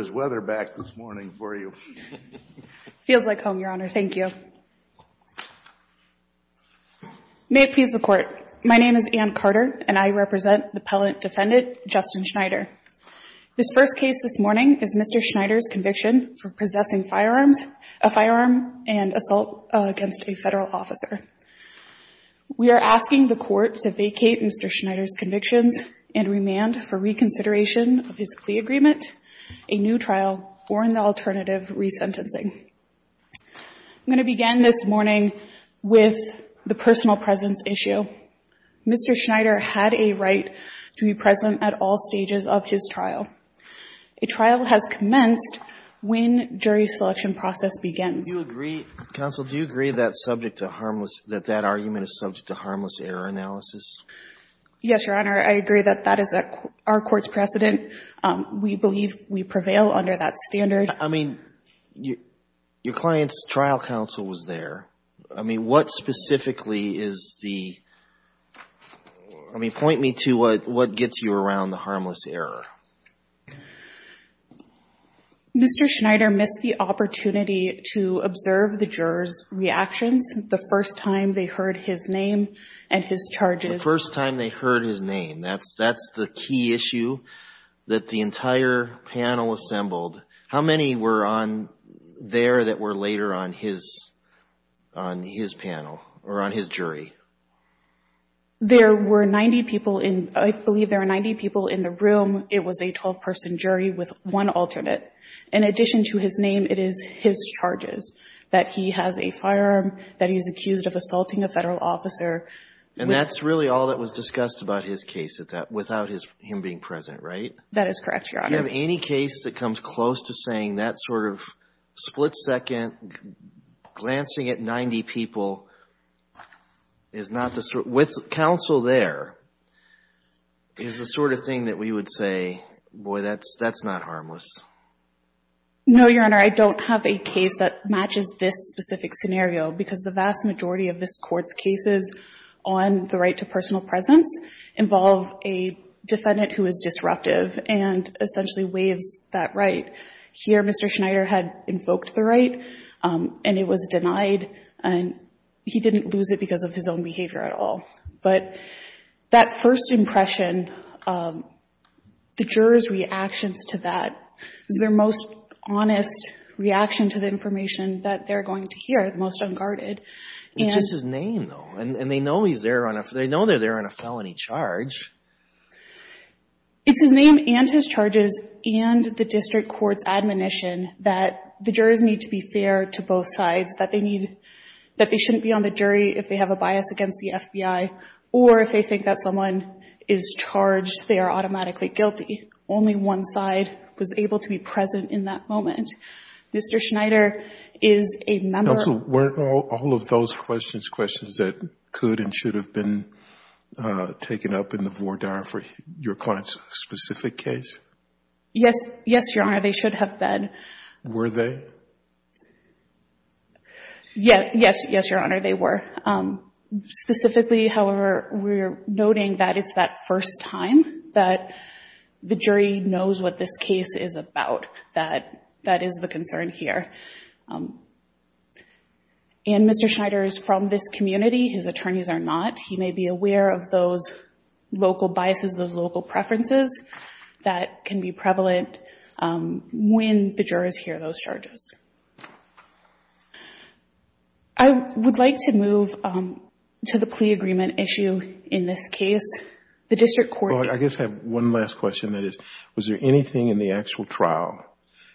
is weather back this morning for you. Feels like home, Your Honor. Thank you. May it please the court. My name is Anne Carter and I represent the Pellant defendant, Justin Schneider. This first case this morning is Mr Schneider's conviction for possessing firearms, a firearm and assault against a federal officer. We are asking the court to vacate Mr Schneider's convictions and remand for reconsideration of his plea agreement, a new trial or an alternative re-sentencing. I'm going to begin this morning with the personal presence issue. Mr Schneider had a right to be present at all stages of his trial. A trial has commenced when jury selection process begins. You agree, counsel, do you agree that subject to harmless, that that argument is subject to harmless error analysis? Yes, Your Honor. I agree that that is our court's precedent. We believe we prevail under that standard. I mean, your client's trial counsel was there. I mean, what specifically is the I mean, point me to what what gets you around the harmless error. Mr Schneider missed the opportunity to observe the jurors reactions the first time they heard his name and his charges. The first time they heard his name. That's that's the key issue that the entire panel assembled. How many were on there that were later on his on his panel or on his jury? There were 90 people in I believe there are 90 people in the room. It was a 12 person jury with one alternate. In addition to his name, it is his charges that he has a firearm, that he's accused of assaulting a federal officer. And that's really all that was discussed about his case at that without his him being present, right? That is correct, Your Honor. You have any case that comes close to saying that sort of split second glancing at 90 people is not the sort with counsel there is the sort of thing that we would say, boy, that's that's not harmless. No, Your Honor, I don't have a case that matches this specific scenario because the vast majority of this court's cases on the right to personal presence involve a defendant who is disruptive and essentially waives that right. Here, Mr. Schneider had invoked the right and it was denied and he didn't lose it because of his own behavior at all. But that first impression, the jurors reactions to that is their most honest reaction to the information that they're going to hear, the most unguarded. It's his name, though, and they know he's there on a, they know they're there on a felony charge. It's his name and his charges and the district court's admonition that the jurors need to be fair to both sides, that they need, that they shouldn't be on the jury if they have a bias against the FBI or if they think that someone is charged, they are automatically guilty. Only one side was present in that moment. Mr. Schneider is a member of... Now, so weren't all of those questions questions that could and should have been taken up in the voir dire for your client's specific case? Yes, yes, Your Honor, they should have been. Were they? Yes, yes, yes, Your Honor, they were. Specifically, however, we're noting that it's that first time that the jury knows what this case is about, that that is the concern here. And Mr. Schneider is from this community, his attorneys are not. He may be aware of those local biases, those local preferences that can be prevalent when the jurors hear those charges. I would like to move to the plea agreement issue in this case. The district court... I guess I have one last question, that is, was there anything in the actual trial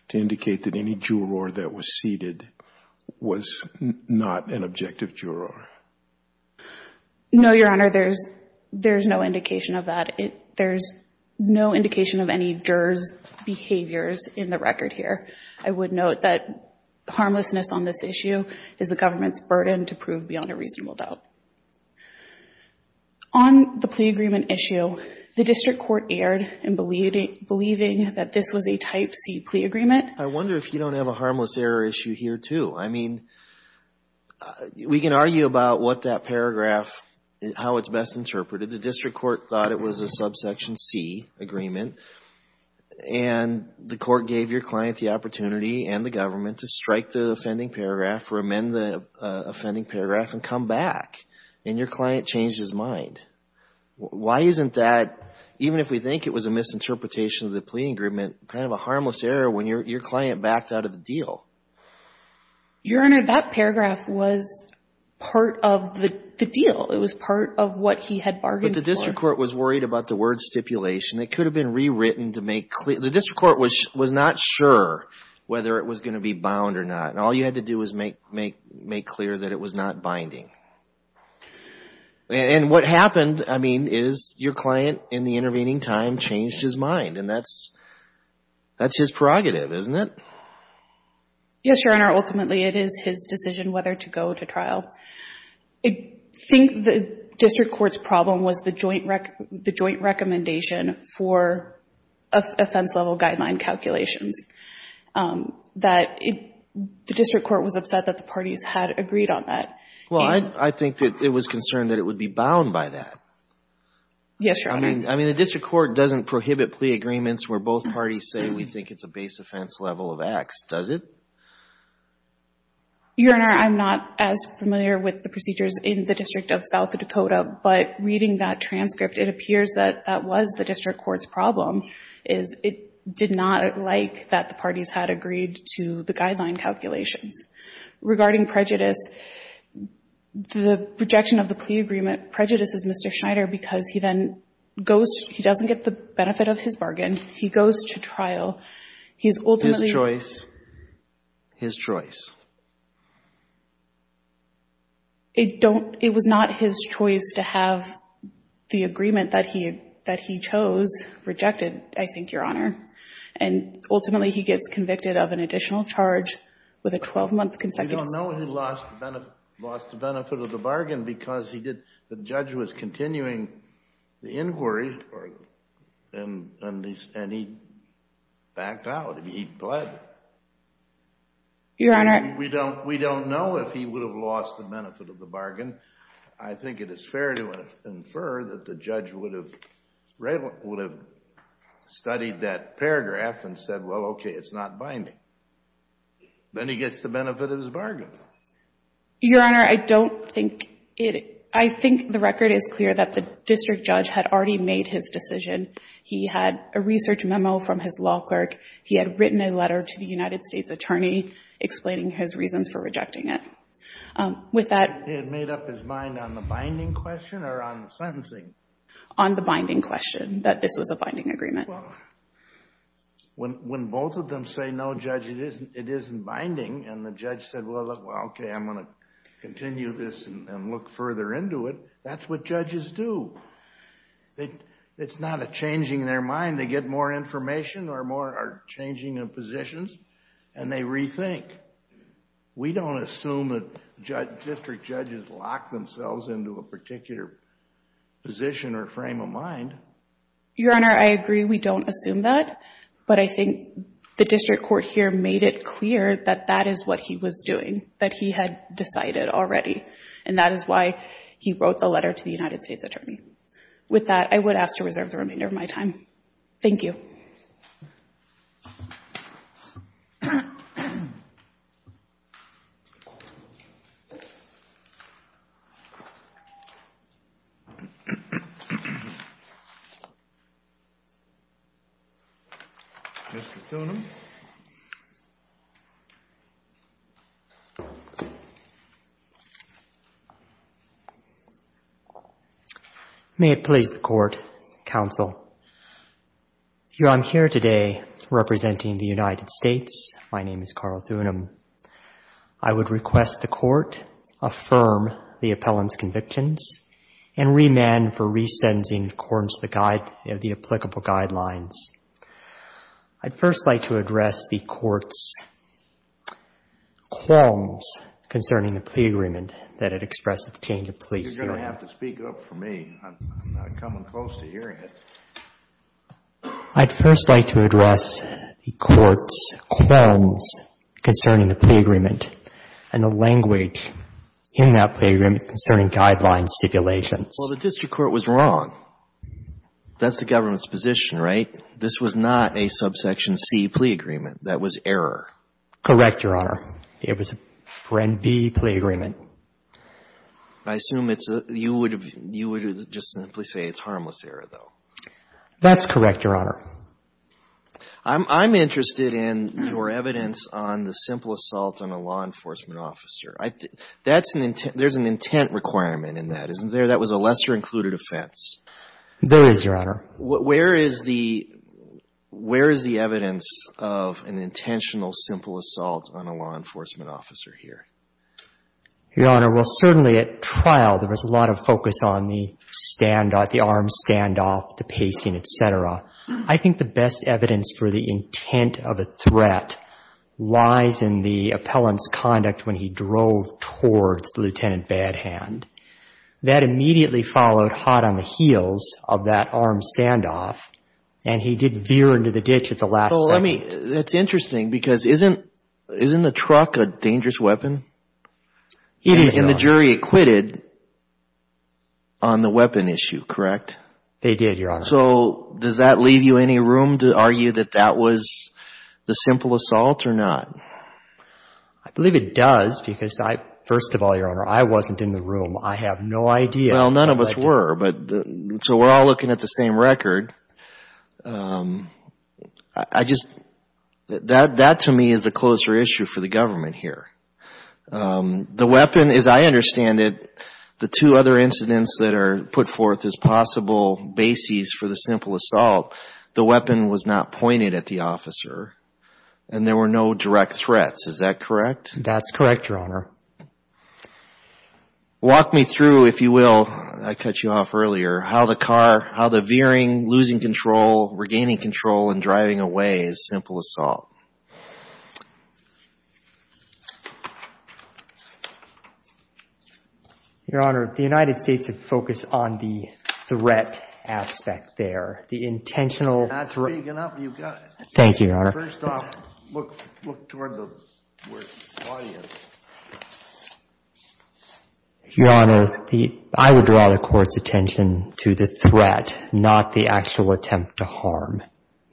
to indicate that any juror that was seated was not an objective juror? No, Your Honor, there's no indication of that. There's no indication of any jurors' behaviors in the record here. I would note that harmlessness on this issue is the government's burden to prove beyond a reasonable doubt. On the plea agreement issue, the district court erred in believing that this was a Type C plea agreement. I wonder if you don't have a harmless error issue here, too. I mean, we can argue about what that paragraph, how it's best interpreted. The district court thought it was a subsection C agreement, and the court gave your client the opportunity and the government to strike the offending paragraph or amend the offending paragraph and come back, and your client changed his mind. Why isn't that, even if we think it was a misinterpretation of the plea agreement, kind of a harmless error when your client backed out of the deal? Your Honor, that paragraph was part of the deal. It was part of what he had bargained for. But the district court was worried about the word stipulation. It could have been rewritten to make clear... The district court was not sure whether it was going to be bound or not, and all you had to do was make clear that it was not binding. And what happened, I mean, is your client, in the intervening time, changed his mind, and that's his prerogative, isn't it? Yes, Your Honor. Ultimately, it is his decision whether to go to trial. I think the district court's problem was the joint recommendation for offense-level guideline calculations, that the district court was upset that the parties had agreed on that. Well, I think that it was concerned that it would be bound by that. Yes, Your Honor. I mean, the district court doesn't prohibit plea agreements where both parties say we think it's a base offense level of X, does it? Your Honor, I'm not as familiar with the procedures in the District of South Dakota, but reading that transcript, it appears that that was the district court's problem, is it did not like that the parties had agreed to the guideline calculations. Regarding prejudice, the rejection of the plea agreement prejudices Mr. Schneider because he then goes to — he doesn't get the benefit of his bargain. He goes to trial. He's ultimately — His choice. His choice. It don't — it was not his choice to have the agreement that he — that he chose. It was rejected, I think, Your Honor, and ultimately he gets convicted of an additional charge with a 12-month consecutive sentence. We don't know if he lost the benefit of the bargain because he did — the judge was continuing the inquiry and he backed out. He pled. Your Honor — We don't know if he would have lost the benefit of the bargain. I think it is fair to infer that the judge would have studied that paragraph and said, well, okay, it's not binding. Then he gets the benefit of his bargain. Your Honor, I don't think it — I think the record is clear that the district judge had already made his decision. He had a research memo from his law clerk. He had written a letter to the United States attorney explaining his reasons for rejecting it. With that — He had made up his mind on the binding question or on the sentencing? On the binding question, that this was a binding agreement. Well, when both of them say, no, Judge, it isn't — it isn't binding, and the judge said, well, okay, I'm going to continue this and look further into it, that's what judges do. It's not a changing their mind. They get more information or more — or changing their positions, and they rethink. We don't assume that district judges lock themselves into a particular position or frame of mind. Your Honor, I agree we don't assume that, but I think the district court here made it clear that that is what he was doing, that he had decided already. And that is why he wrote the letter to the United States attorney. With that, I would ask to reserve the remainder of my time. Thank you. Mr. Tonum. May it please the Court, Counsel, I'm here today representing the United States. My name is Carl Tonum. I would request the Court affirm the appellant's convictions and remand for re-sentencing in accordance with the applicable guidelines. I'd first like to address the Court's qualms concerning the plea agreement that it expressed at the change of plea hearing. You're going to have to speak up for me. I'm not coming close to hearing it. I'd first like to address the Court's qualms concerning the plea agreement and the language in that plea agreement concerning guideline stipulations. Well, the district court was wrong. That's the government's position, right? This was not a subsection C plea agreement. That was error. Correct, Your Honor. It was a brand B plea agreement. I assume it's a – you would have – you would have just simply say it's harmless error, though. That's correct, Your Honor. I'm interested in your evidence on the simple assault on a law enforcement officer. That's an – there's an intent requirement in that, isn't there? That was a lesser-included offense. There is, Your Honor. Where is the – where is the evidence of an intentional simple assault on a law enforcement officer here? Your Honor, well, certainly at trial there was a lot of focus on the standoff, the arm standoff, the pacing, et cetera. I think the best evidence for the intent of a threat lies in the appellant's conduct when he drove towards Lieutenant Badhand. That immediately followed hot on the heels of that arm standoff, and he did veer into the ditch at the last second. Well, let me – that's interesting because isn't – isn't a truck a dangerous weapon? It is, Your Honor. And the jury acquitted on the weapon issue, correct? They did, Your Honor. So does that leave you any room to argue that that was the simple assault or not? I believe it does because I – first of all, Your Honor, I wasn't in the room. I have no idea. Well, none of us were, but – so we're all looking at the same record. I just – that to me is the closer issue for the government here. The weapon, as I understand it, the two other incidents that are put forth as possible bases for the simple assault, the weapon was not pointed at the officer and there were no direct threats. Is that correct? That's correct, Your Honor. Walk me through, if you will – I cut you off earlier – how the car – how the veering, losing control, regaining control, and driving away is simple assault. Your Honor, the United States had focused on the threat aspect there. The intentional – That's big enough. You got it. Thank you, Your Honor. First off, look toward the audience. Your Honor, I would draw the court's attention to the threat, not the actual attempt to harm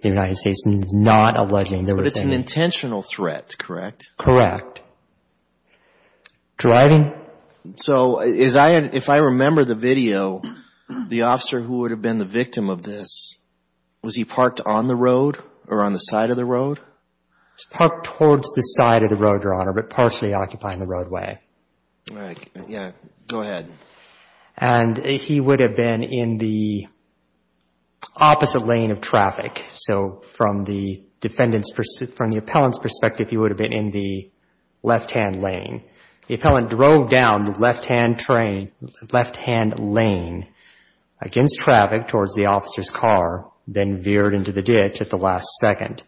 the United States. And it's not alleging there was any – But it's an intentional threat, correct? Correct. Driving? So is I – if I remember the video, the officer who would have been the victim of this, was he parked on the road or on the side of the road? He was parked towards the side of the road, Your Honor, but partially occupying the roadway. All right. Yeah. Go ahead. And he would have been in the opposite lane of traffic. So from the defendant's – from the appellant's perspective, he would have been in the left-hand lane. The appellant drove down the left-hand lane against traffic towards the officer's car, then veered into the ditch at the last second.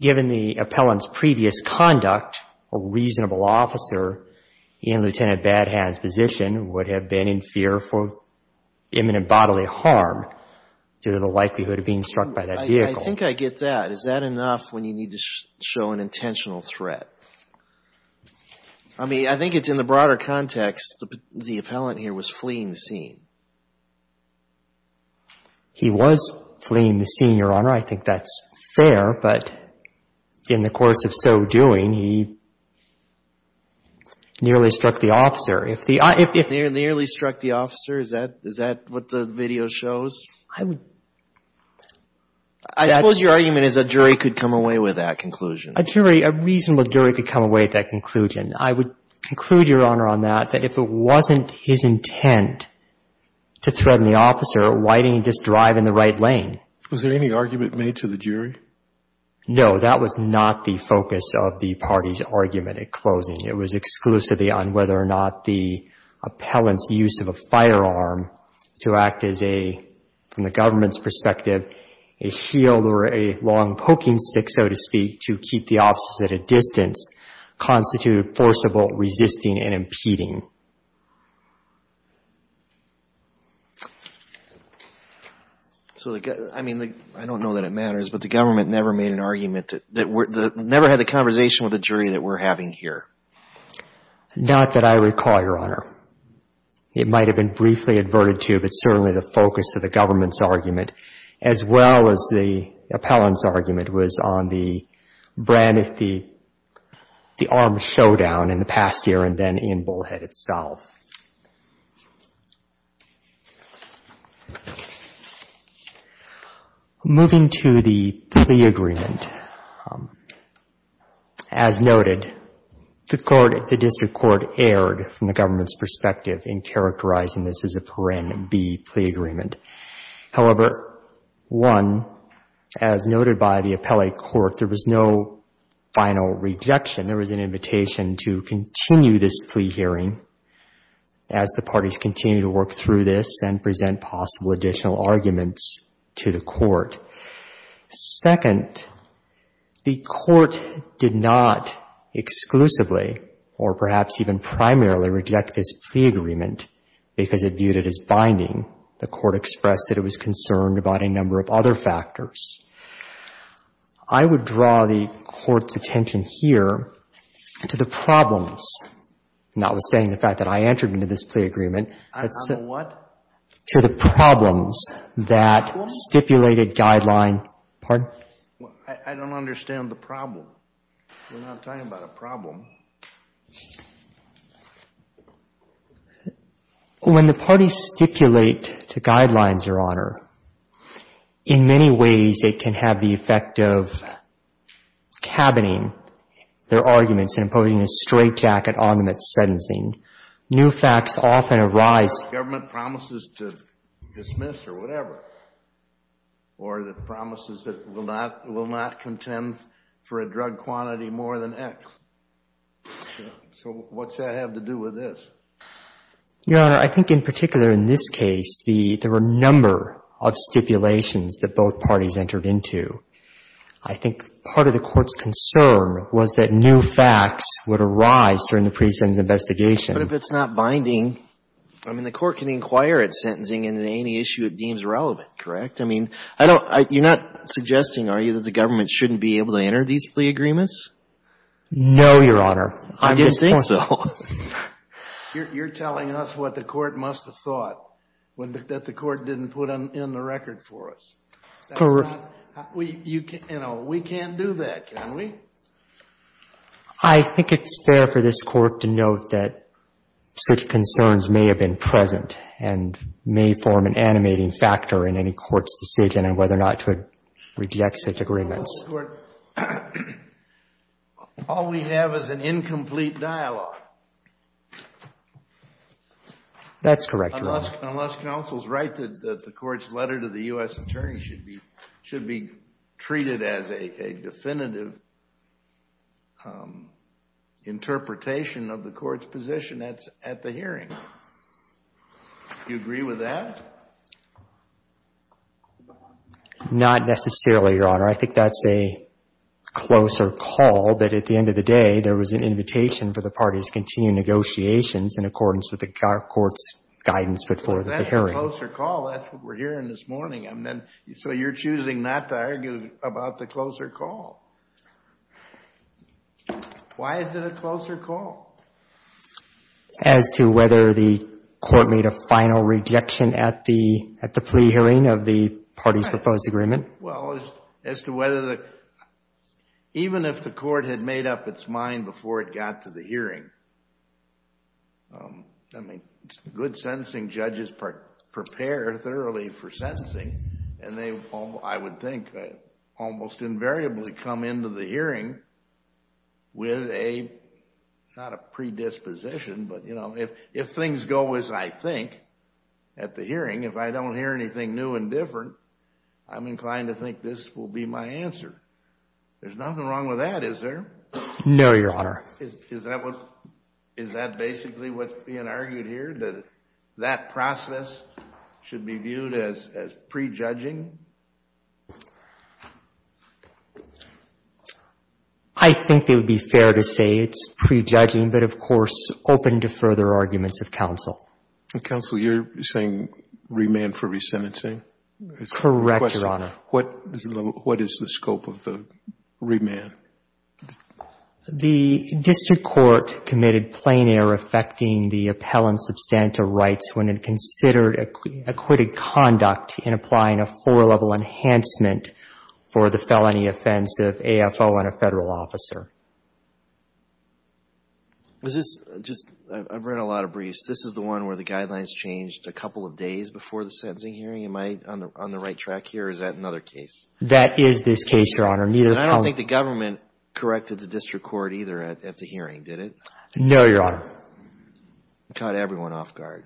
Given the appellant's previous conduct, a reasonable officer in Lieutenant Badhand's position would have been in fear for imminent bodily harm due to the likelihood of being struck by that vehicle. I think I get that. Is that enough when you need to show an intentional threat? I mean, I think it's in the broader context, the appellant here was fleeing the scene. He was fleeing the scene, Your Honor. I think that's fair. But in the course of so doing, he nearly struck the officer. If the – Nearly struck the officer? Is that – is that what the video shows? I would – I suppose your argument is a jury could come away with that conclusion. A jury, a reasonable jury could come away with that conclusion. I would conclude, Your Honor, on that, that if it wasn't his intent to threaten the officer, why didn't he just drive in the right lane? Was there any argument made to the jury? No. That was not the focus of the party's argument at closing. It was exclusively on whether or not the appellant's use of a firearm to act as a, from the government's perspective, a shield or a long poking stick, so to speak, to keep the officers at a distance, constituted forcible resisting and impeding. So, I mean, I don't know that it matters, but the government never made an argument that – never had a conversation with the jury that we're having here. Not that I recall, Your Honor. It might have been briefly adverted to, but certainly the focus of the government's argument, as well as the appellant's argument, was on the brand of the armed showdown in the past year and then in Bullhead itself. Moving to the plea agreement. As noted, the court, the district court erred, from the government's perspective, in characterizing this as a Paren B plea agreement. However, one, as noted by the appellate court, there was no final rejection. There was an invitation to continue this plea hearing as the parties continue to work through this and present possible additional arguments to the court. Second, the court did not exclusively or perhaps even primarily reject this plea agreement because it viewed it as binding. The court expressed that it was concerned about a number of other factors. I would draw the court's attention here to the problems, notwithstanding the fact that I entered into this plea agreement. I know what? To the problems that stipulated guideline. I don't understand the problem. We're not talking about a problem. When the parties stipulate to guidelines, Your Honor, in many ways, they can have the effect of cabining their arguments and imposing a straitjacket on them at sentencing. New facts often arise. Government promises to dismiss or whatever, or the promises that will not contend for a drug quantity more than X. So what does that have to do with this? Your Honor, I think in particular in this case, there were a number of stipulations that both parties entered into. I think part of the court's concern was that new facts would arise during the pre-sentence investigation. But if it's not binding, I mean, the court can inquire at sentencing and at any issue it deems relevant, correct? I mean, you're not suggesting, are you, that the government shouldn't be able to enter these plea agreements? No, Your Honor. I didn't think so. You're telling us what the court must have thought, that the court didn't put in the record for us. Correct. You know, we can't do that, can we? I think it's fair for this Court to note that such concerns may have been present and may form an animating factor in any court's decision on whether or not to reject such agreements. All we have is an incomplete dialogue. That's correct, Your Honor. Unless counsel's right that the court's letter to the U.S. attorney should be treated as a definitive interpretation of the court's position at the hearing. Do you agree with that? Not necessarily, Your Honor. I think that's a closer call, but at the end of the day, there was an invitation for the parties to continue negotiations in accordance with the court's guidance before the hearing. That's a closer call. That's what we're hearing this morning. So you're choosing not to argue about the closer call. Why is it a closer call? As to whether the court made a final rejection at the plea hearing of the party's proposed agreement? Well, as to whether the, even if the court had made up its mind before it got to the hearing, I mean, good sentencing judges prepare thoroughly for sentencing, and they, I would think, almost invariably come into the hearing with a, not a predisposition, but you know, if things go as I think at the hearing, if I don't hear anything new and different, I'm inclined to think this will be my answer. There's nothing wrong with that, is there? No, Your Honor. Is that what, is that basically what's being argued here, that that process should be viewed as prejudging? I think it would be fair to say it's prejudging, but of course, open to further arguments of counsel. Counsel, you're saying remand for resentencing? Correct, Your Honor. What is the scope of the remand? The district court committed plein air affecting the appellant's substantive rights when it considered acquitted conduct in applying a four-level enhancement for the felony offense of AFO on a Federal officer. Is this just, I've read a lot of briefs. This is the one where the guidelines changed a couple of days before the sentencing hearing? Am I on the right track here, or is that another case? That is this case, Your Honor. Neither appellant. And I don't think the government corrected the district court either at the hearing, did it? No, Your Honor. It caught everyone off guard.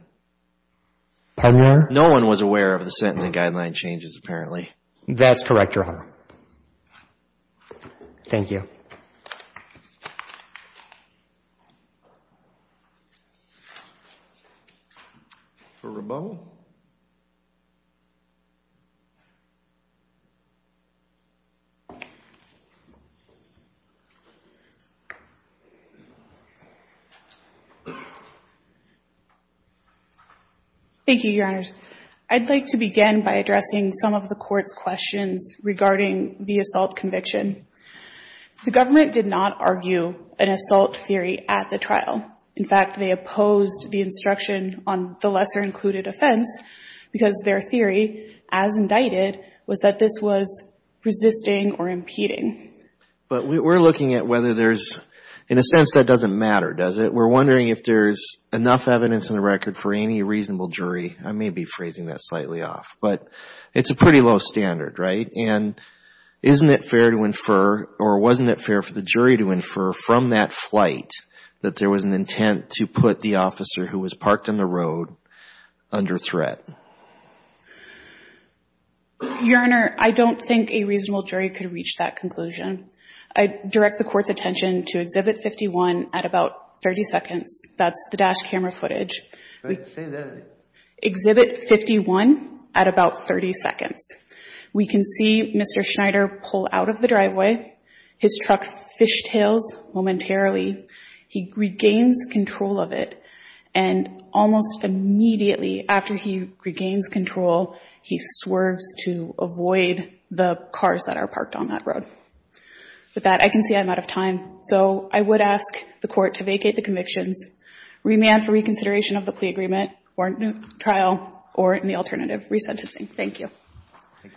Pardon me, Your Honor? No one was aware of the sentencing guideline changes, apparently. That's correct, Your Honor. Thank you. Thank you. For Rebo? Thank you, Your Honors. I'd like to begin by addressing some of the court's questions regarding the assault conviction. The government did not argue an assault theory at the trial. In fact, they opposed the instruction on the lesser-included offense because their theory, as indicted, was that this was resisting or impeding. But we're looking at whether there's, in a sense, that doesn't matter, does it? We're wondering if there's enough evidence in the record for any reasonable jury. I may be phrasing that slightly off, but it's a pretty low standard, right? And isn't it fair to infer, or wasn't it fair for the jury to infer from that flight that there was an intent to put the officer who was parked on the road under threat? Your Honor, I don't think a reasonable jury could reach that conclusion. I direct the court's attention to Exhibit 51 at about 30 seconds. That's the dash camera footage. Say that again. Exhibit 51 at about 30 seconds. We can see Mr. Schneider pull out of the driveway. His truck fishtails momentarily. He regains control of it. And almost immediately after he regains control, he swerves to avoid the cars that are parked on that road. With that, I can see I'm out of time. So I would ask the Court to vacate the convictions, remand for reconsideration of the plea agreement or trial, or in the alternative, resentencing. Thank you.